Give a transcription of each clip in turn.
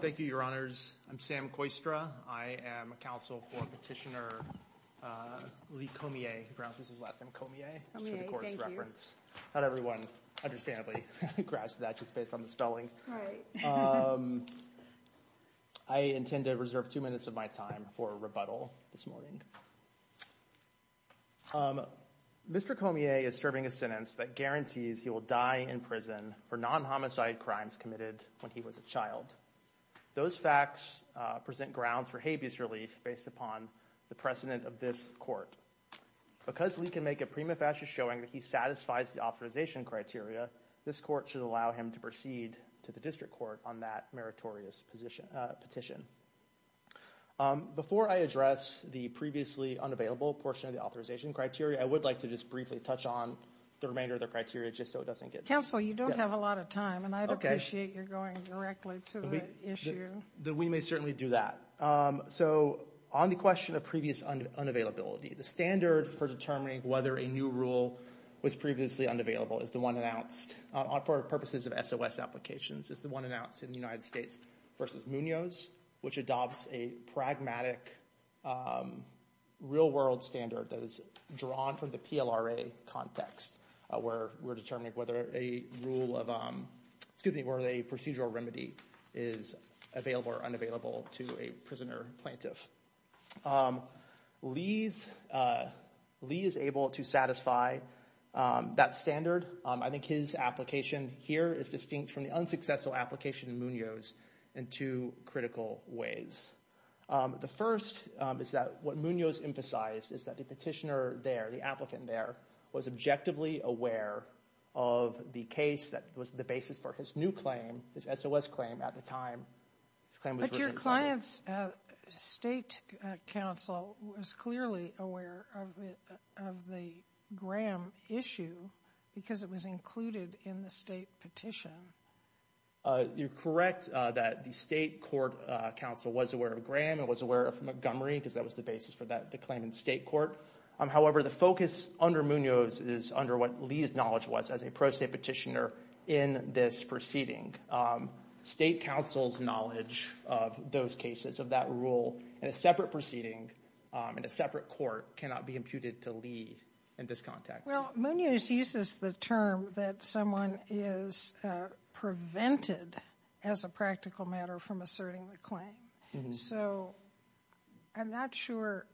Thank you, Your Honors. I'm Sam Koistra. I am a counsel for Petitioner Lee Comier. Perhaps this is his last name, Comier, for the Court's reference. Not everyone, understandably, grasps that just based on the spelling. I intend to reserve two minutes of my time for rebuttal this morning. Mr. Comier is serving a sentence that guarantees he will die in prison for non-homicide crimes committed when he was a child. Those facts present grounds for habeas relief based upon the precedent of this Court. Because Lee can make a prima facie showing that he satisfies the authorization criteria, this Court should allow him to proceed to the District Court on that meritorious petition. Before I address the previously unavailable portion of the authorization criteria, I would like to just briefly touch on the remainder of the criteria just so it doesn't get... Counsel, you don't have a lot of time, and I'd appreciate your going directly to the issue. We may certainly do that. So on the question of previous unavailability, the standard for determining whether a new rule was previously unavailable is the one announced. For purposes of SOS applications, it's the one announced in the United States v. Munoz, which adopts a pragmatic real-world standard that is drawn from the PLRA context where we're determining whether a procedural remedy is available or unavailable to a prisoner plaintiff. Lee is able to satisfy that standard. I think his application here is distinct from the unsuccessful application in Munoz in two critical ways. The first is that what Munoz emphasized is that the petitioner there, the applicant there, was objectively aware of the case that was the basis for his new claim, his SOS claim at the time. But your client's state counsel was clearly aware of the Graham issue because it was included in the state petition. You're correct that the state court counsel was aware of Graham and was aware of Montgomery because that was the basis for the claim in the state court. However, the focus under Munoz is under what Lee's knowledge was as a pro-state petitioner in this proceeding. State counsel's knowledge of those cases, of that rule in a separate proceeding, in a separate court cannot be imputed to Lee in this context. Well, Munoz uses the term that someone is prevented as a practical matter from asserting the claim. So I'm not sure,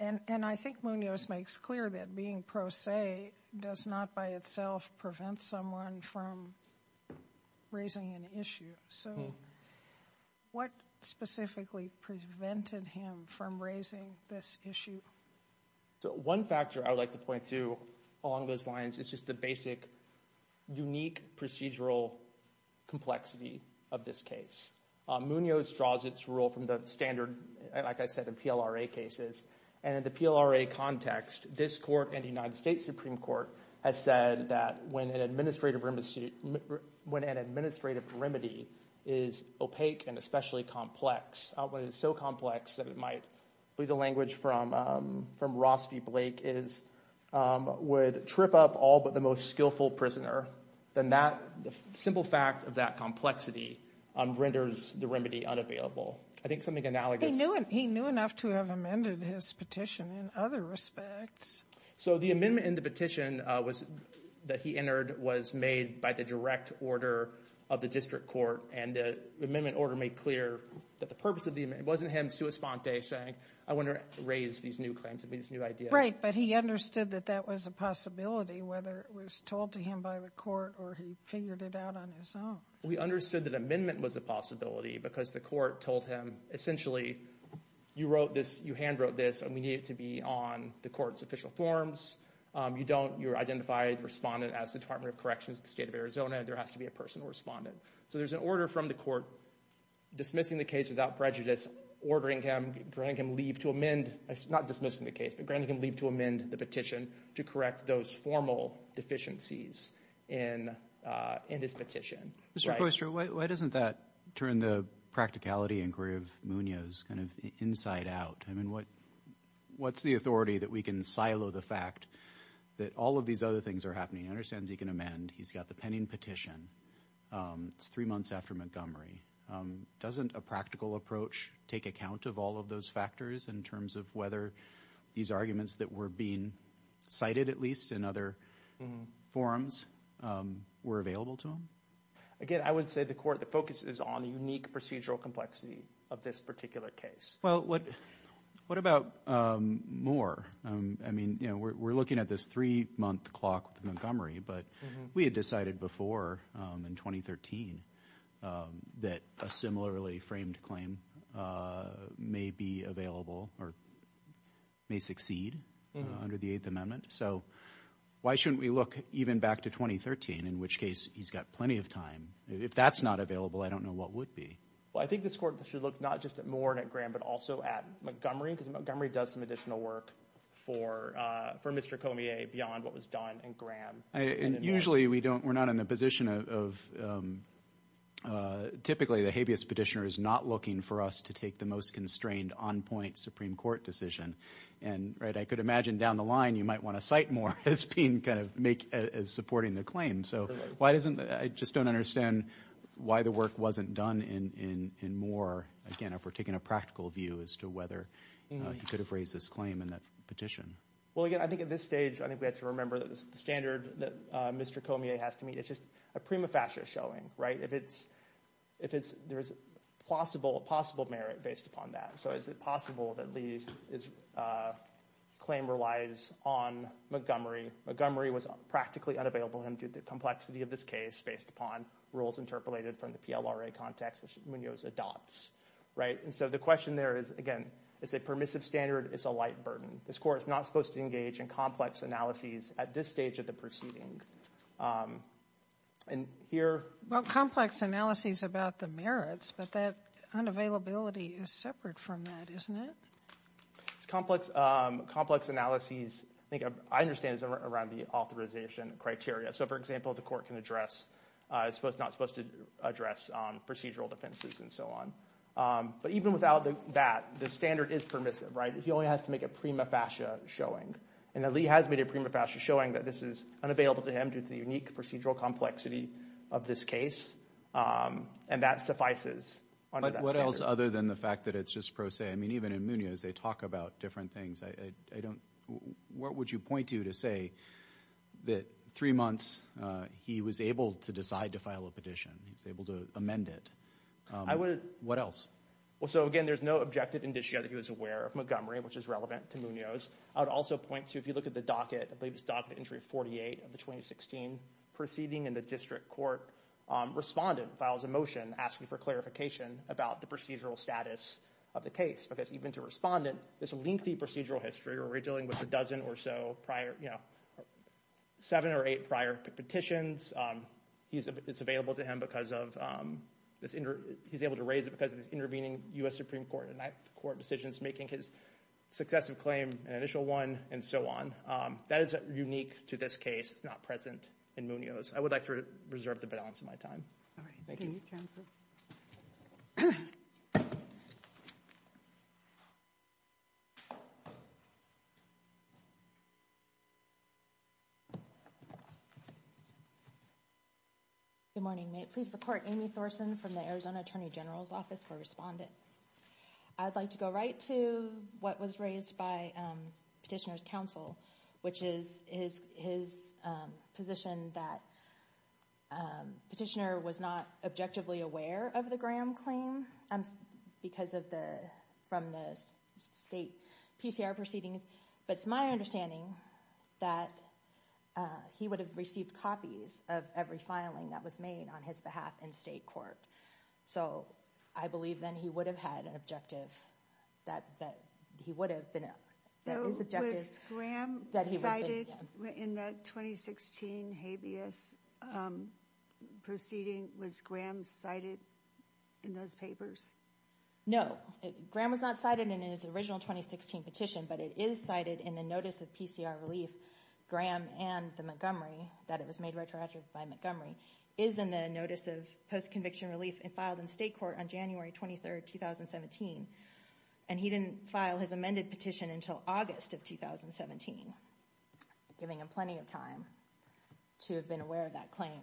and I think Munoz makes clear that being pro se does not by itself prevent someone from raising an issue. So what specifically prevented him from raising this issue? One factor I would like to point to along those lines is just the basic unique procedural complexity of this case. Munoz draws its rule from the standard, like I said, of PLRA cases. And in the PLRA context, this court and the United States Supreme Court has said that when an administrative remedy is opaque and especially complex, when it's so complex that it might be the language from Ross v. Blake is, would trip up all but the most skillful prisoner, then that simple fact of that complexity renders the remedy unavailable. I think something analogous. He knew enough to have amended his petition in other respects. So the amendment in the petition that he entered was made by the direct order of the district court, and the amendment order made clear that the purpose of the amendment, it wasn't him sua sponte saying I want to raise these new claims, these new ideas. Right, but he understood that that was a possibility, whether it was told to him by the court or he figured it out on his own. We understood that amendment was a possibility because the court told him essentially, you wrote this, you hand wrote this, and we need it to be on the court's official forms. You don't, you identify the respondent as the Department of Corrections, the state of Arizona, and there has to be a personal respondent. So there's an order from the court dismissing the case without prejudice, ordering him, granting him leave to amend, not dismissing the case, but granting him leave to amend the petition to correct those formal deficiencies in his petition. Mr. Poistre, why doesn't that turn the practicality inquiry of Munoz kind of inside out? I mean, what's the authority that we can silo the fact that all of these other things are happening? He understands he can amend. He's got the pending petition. It's three months after Montgomery. Doesn't a practical approach take account of all of those factors in terms of whether these arguments that were being cited, at least in other forums, were available to him? Again, I would say the court, the focus is on unique procedural complexity of this particular case. Well, what about more? I mean, we're looking at this three-month clock with Montgomery, but we had decided before in 2013 that a similarly framed claim may be available or may succeed under the Eighth Amendment. So why shouldn't we look even back to 2013, in which case he's got plenty of time? If that's not available, I don't know what would be. Well, I think this court should look not just at Moore and at Graham, but also at Montgomery, because Montgomery does some additional work for Mr. Cormier beyond what was done in Graham. And usually we're not in the position of typically the habeas petitioner is not looking for us to take the most constrained, on-point Supreme Court decision. And I could imagine down the line you might want to cite Moore as being kind of supporting the claim. So I just don't understand why the work wasn't done in Moore, again, if we're taking a practical view as to whether he could have raised this claim in that petition. Well, again, I think at this stage, I think we have to remember the standard that Mr. Cormier has to meet. It's just a prima facie showing, right? If there's a possible merit based upon that. So is it possible that Lee's claim relies on Montgomery? Montgomery was practically unavailable to him due to the complexity of this case based upon rules interpolated from the PLRA context, which Munoz adopts, right? And so the question there is, again, it's a permissive standard. It's a light burden. This court is not supposed to engage in complex analyses at this stage of the proceeding. And here. Well, complex analyses about the merits, but that unavailability is separate from that, isn't it? Complex analyses, I think I understand, is around the authorization criteria. So, for example, the court can address, it's not supposed to address procedural defenses and so on. But even without that, the standard is permissive, right? So he only has to make a prima facie showing. And Lee has made a prima facie showing that this is unavailable to him due to the unique procedural complexity of this case. And that suffices under that standard. But what else other than the fact that it's just pro se? I mean, even in Munoz they talk about different things. What would you point to to say that three months he was able to decide to file a petition, he was able to amend it? I would. What else? Well, so, again, there's no objective indicia that he was aware of Montgomery, which is relevant to Munoz. I would also point to, if you look at the docket, I believe it's docket entry 48 of the 2016 proceeding in the district court, respondent files a motion asking for clarification about the procedural status of the case. Because even to respondent, this lengthy procedural history where we're dealing with a dozen or so prior, you know, seven or eight prior petitions, it's available to him because of this. He's able to raise it because of his intervening U.S. Supreme Court in that court decisions, making his successive claim an initial one and so on. That is unique to this case. It's not present in Munoz. I would like to reserve the balance of my time. All right. Thank you. Thank you, counsel. Good morning. May it please the court, Amy Thorson from the Arizona Attorney General's Office for Respondent. I'd like to go right to what was raised by petitioner's counsel, which is his position that petitioner was not objectively aware of the Graham claim because of the, from the state PCR proceedings. But it's my understanding that he would have received copies of every filing that was made on his behalf in state court. So I believe then he would have had an objective that he would have been, that his objective. So was Graham cited in that 2016 habeas proceeding? Was Graham cited in those papers? No. Graham was not cited in his original 2016 petition, but it is cited in the notice of PCR relief. Graham and the Montgomery, that it was made retroactive by Montgomery, is in the notice of post-conviction relief and filed in state court on January 23rd, 2017. And he didn't file his amended petition until August of 2017, giving him plenty of time to have been aware of that claim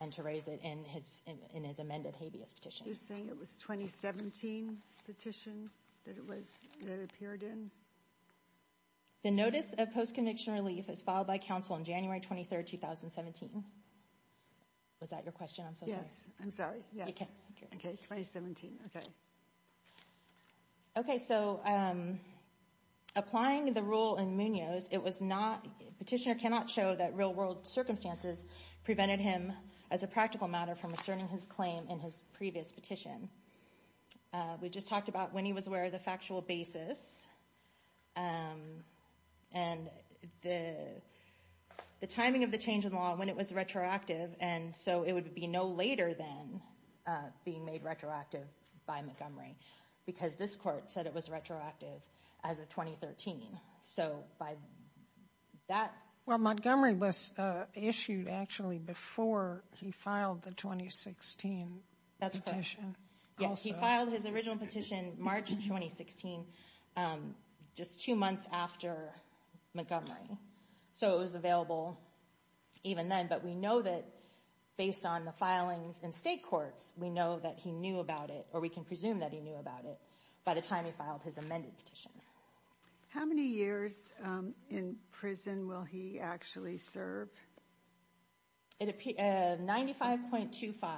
and to raise it in his amended habeas petition. You're saying it was 2017 petition that it was, that it appeared in? The notice of post-conviction relief is filed by counsel on January 23rd, 2017. Was that your question? I'm so sorry. Yes, I'm sorry. Yes. Okay. Okay, 2017, okay. Okay, so applying the rule in Munoz, it was not, petitioner cannot show that real world circumstances prevented him as a practical matter from asserting his claim in his previous petition. We just talked about when he was aware of the factual basis and the timing of the change in law and when it was retroactive. And so it would be no later than being made retroactive by Montgomery, because this court said it was retroactive as of 2013. So by that... Well, Montgomery was issued actually before he filed the 2016 petition. That's correct. Yes, he filed his original petition March 2016, just two months after Montgomery. So it was available even then, but we know that based on the filings in state courts, we know that he knew about it, or we can presume that he knew about it by the time he filed his amended petition. How many years in prison will he actually serve? 95.25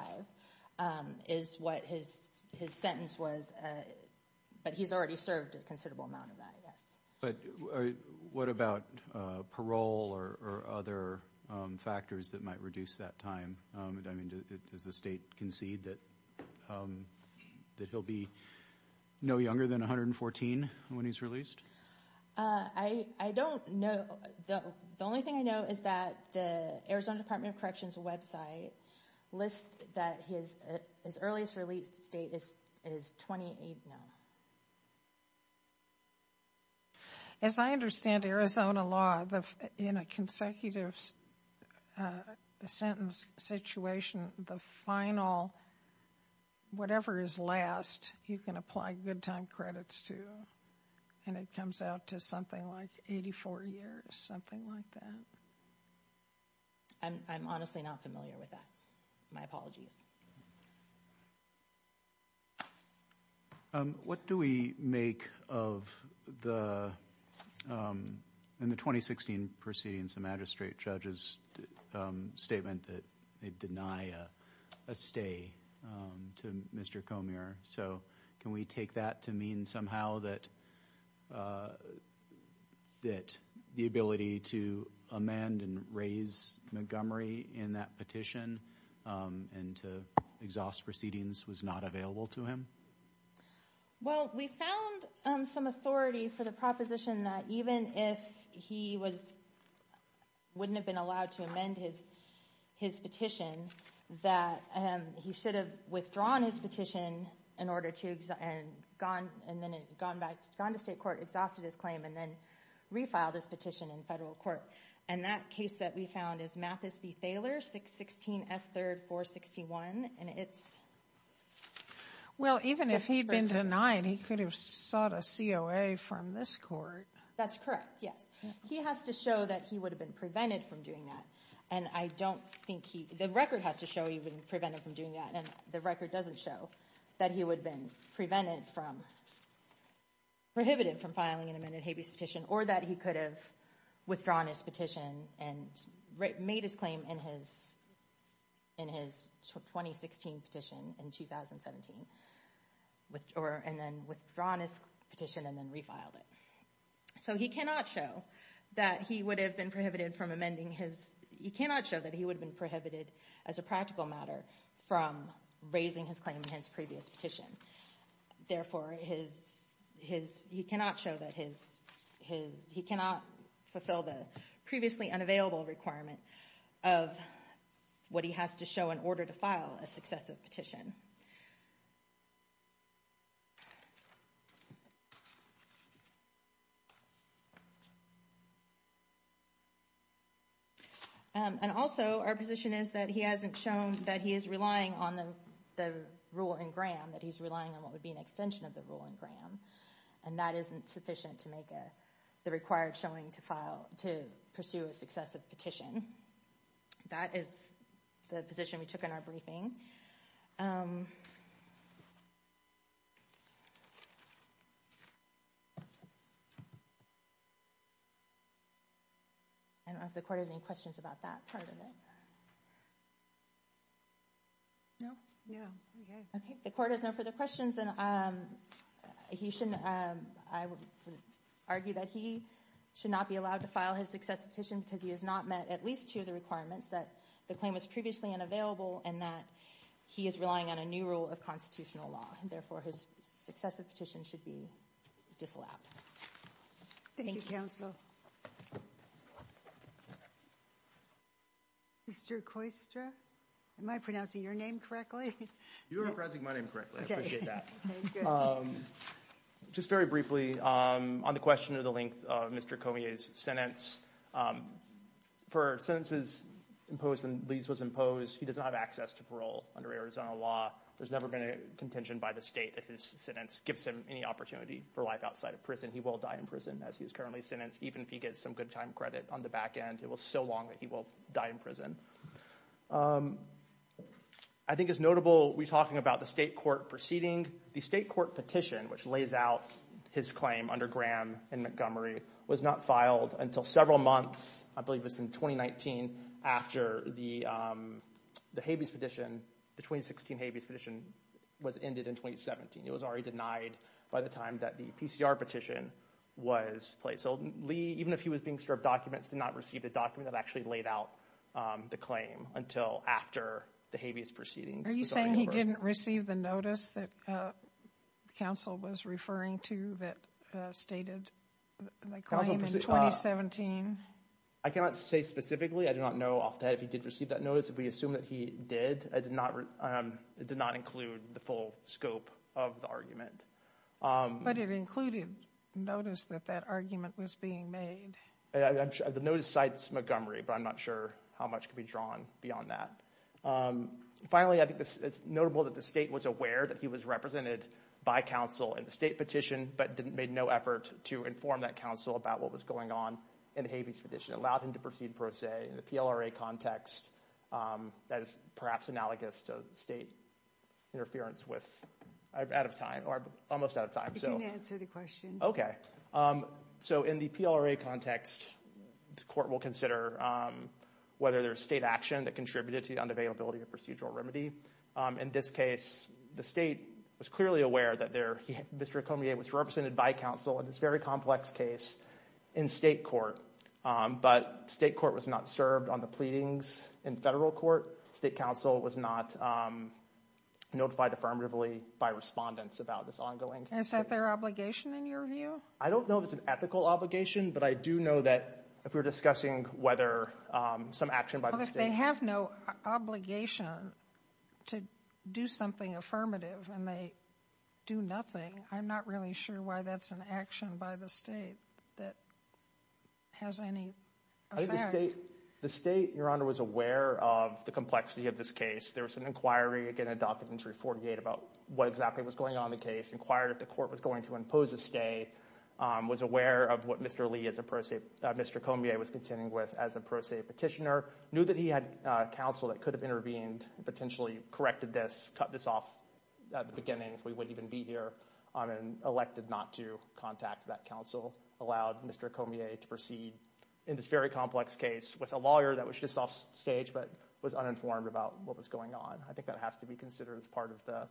is what his sentence was, but he's already served a considerable amount of that, yes. But what about parole or other factors that might reduce that time? I mean, does the state concede that he'll be no younger than 114 when he's released? I don't know. The only thing I know is that the Arizona Department of Corrections website lists that his earliest release date is 28 now. As I understand Arizona law, in a consecutive sentence situation, the final, whatever is last, you can apply good time credits to, and it comes out to something like 84 years, something like that. I'm honestly not familiar with that. My apologies. What do we make of the, in the 2016 proceedings, the magistrate judge's statement that they deny a stay to Mr. Comier? So can we take that to mean somehow that the ability to amend and raise Montgomery in that petition and to exhaust proceedings was not available to him? Well, we found some authority for the proposition that even if he was, wouldn't have been allowed to amend his petition, that he should have withdrawn his petition in order to, and gone, and then gone back, gone to state court, exhausted his claim, and then refiled his petition in federal court. And that case that we found is Mathis v. Thaler, 616F3-461. Well, even if he'd been denied, he could have sought a COA from this court. That's correct, yes. He has to show that he would have been prevented from doing that. And I don't think he, the record has to show he would have been prevented from doing that, and the record doesn't show that he would have been prevented from, prohibited from filing an amended habeas petition, or that he could have withdrawn his petition and made his claim in his, in his 2016 petition in 2017, or, and then withdrawn his petition and then refiled it. So he cannot show that he would have been prohibited from amending his, he cannot show that he would have been prohibited as a practical matter from raising his claim in his previous petition. Therefore, his, his, he cannot show that his, his, he cannot fulfill the previously unavailable requirement of what he has to show in order to file a successive petition. And also, our position is that he hasn't shown that he is relying on the, the rule in Graham, that he's relying on what would be an extension of the rule in Graham, and that isn't sufficient to make a, the required showing to file, to pursue a successive petition. That is the position we took in our briefing. I don't know if the Court has any questions about that part of it. No? Okay. The Court has no further questions, and he should, I would argue that he should not be allowed to file his successive petition because he has not met at least two of the requirements, that the claim was previously unavailable, and that he is relying on a new rule of constitutional law. Therefore, his successive petition should be disallowed. Thank you. Thank you, counsel. Mr. Koystra? Am I pronouncing your name correctly? You are pronouncing my name correctly. I appreciate that. Okay, good. Just very briefly, on the question of the length of Mr. Cormier's sentence, for sentences imposed when Lee's was imposed, he does not have access to parole under Arizona law. There's never been a contention by the state that his sentence gives him any opportunity for life outside of prison. He will die in prison as he is currently sentenced, even if he gets some good time credit on the back end. It will be so long that he will die in prison. I think it's notable we're talking about the state court proceeding. The state court petition, which lays out his claim under Graham and Montgomery, was not filed until several months, I believe it was in 2019, after the habeas petition, the 2016 habeas petition was ended in 2017. It was already denied by the time that the PCR petition was placed. So Lee, even if he was being served documents, did not receive the document that actually laid out the claim until after the habeas proceeding. Are you saying he didn't receive the notice that counsel was referring to that stated the claim in 2017? I cannot say specifically. I do not know off the head if he did receive that notice. If we assume that he did, it did not include the full scope of the argument. But it included notice that that argument was being made. The notice cites Montgomery, but I'm not sure how much could be drawn beyond that. Finally, I think it's notable that the state was aware that he was represented by counsel in the state petition, but made no effort to inform that counsel about what was going on in the habeas petition. It allowed him to proceed pro se. In the PLRA context, that is perhaps analogous to state interference with, out of time, or almost out of time. You can answer the question. So in the PLRA context, the court will consider whether there's state action that contributed to the unavailability of procedural remedy. In this case, the state was clearly aware that Mr. Comier was represented by counsel in this very complex case in state court. But state court was not served on the pleadings in federal court. State counsel was not notified affirmatively by respondents about this ongoing case. Is that their obligation in your view? I don't know if it's an ethical obligation, but I do know that if we're discussing whether some action by the state. They have no obligation to do something affirmative, and they do nothing. I'm not really sure why that's an action by the state that has any effect. I think the state, Your Honor, was aware of the complexity of this case. There was an inquiry, again, adopted in 348 about what exactly was going on in the case, inquired if the court was going to impose a stay, was aware of what Mr. Comier was contending with as a pro se petitioner. Knew that he had counsel that could have intervened and potentially corrected this, cut this off at the beginning if we wouldn't even be here, and elected not to contact that counsel. Allowed Mr. Comier to proceed in this very complex case with a lawyer that was just off stage but was uninformed about what was going on. I think that has to be considered as part of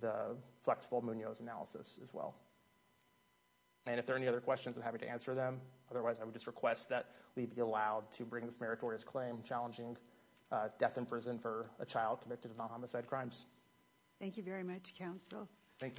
the flexible Munoz analysis as well. And if there are any other questions, I'm happy to answer them. Otherwise, I would just request that we be allowed to bring this meritorious claim challenging death in prison for a child convicted of non homicide crimes. Thank you very much. Thank you.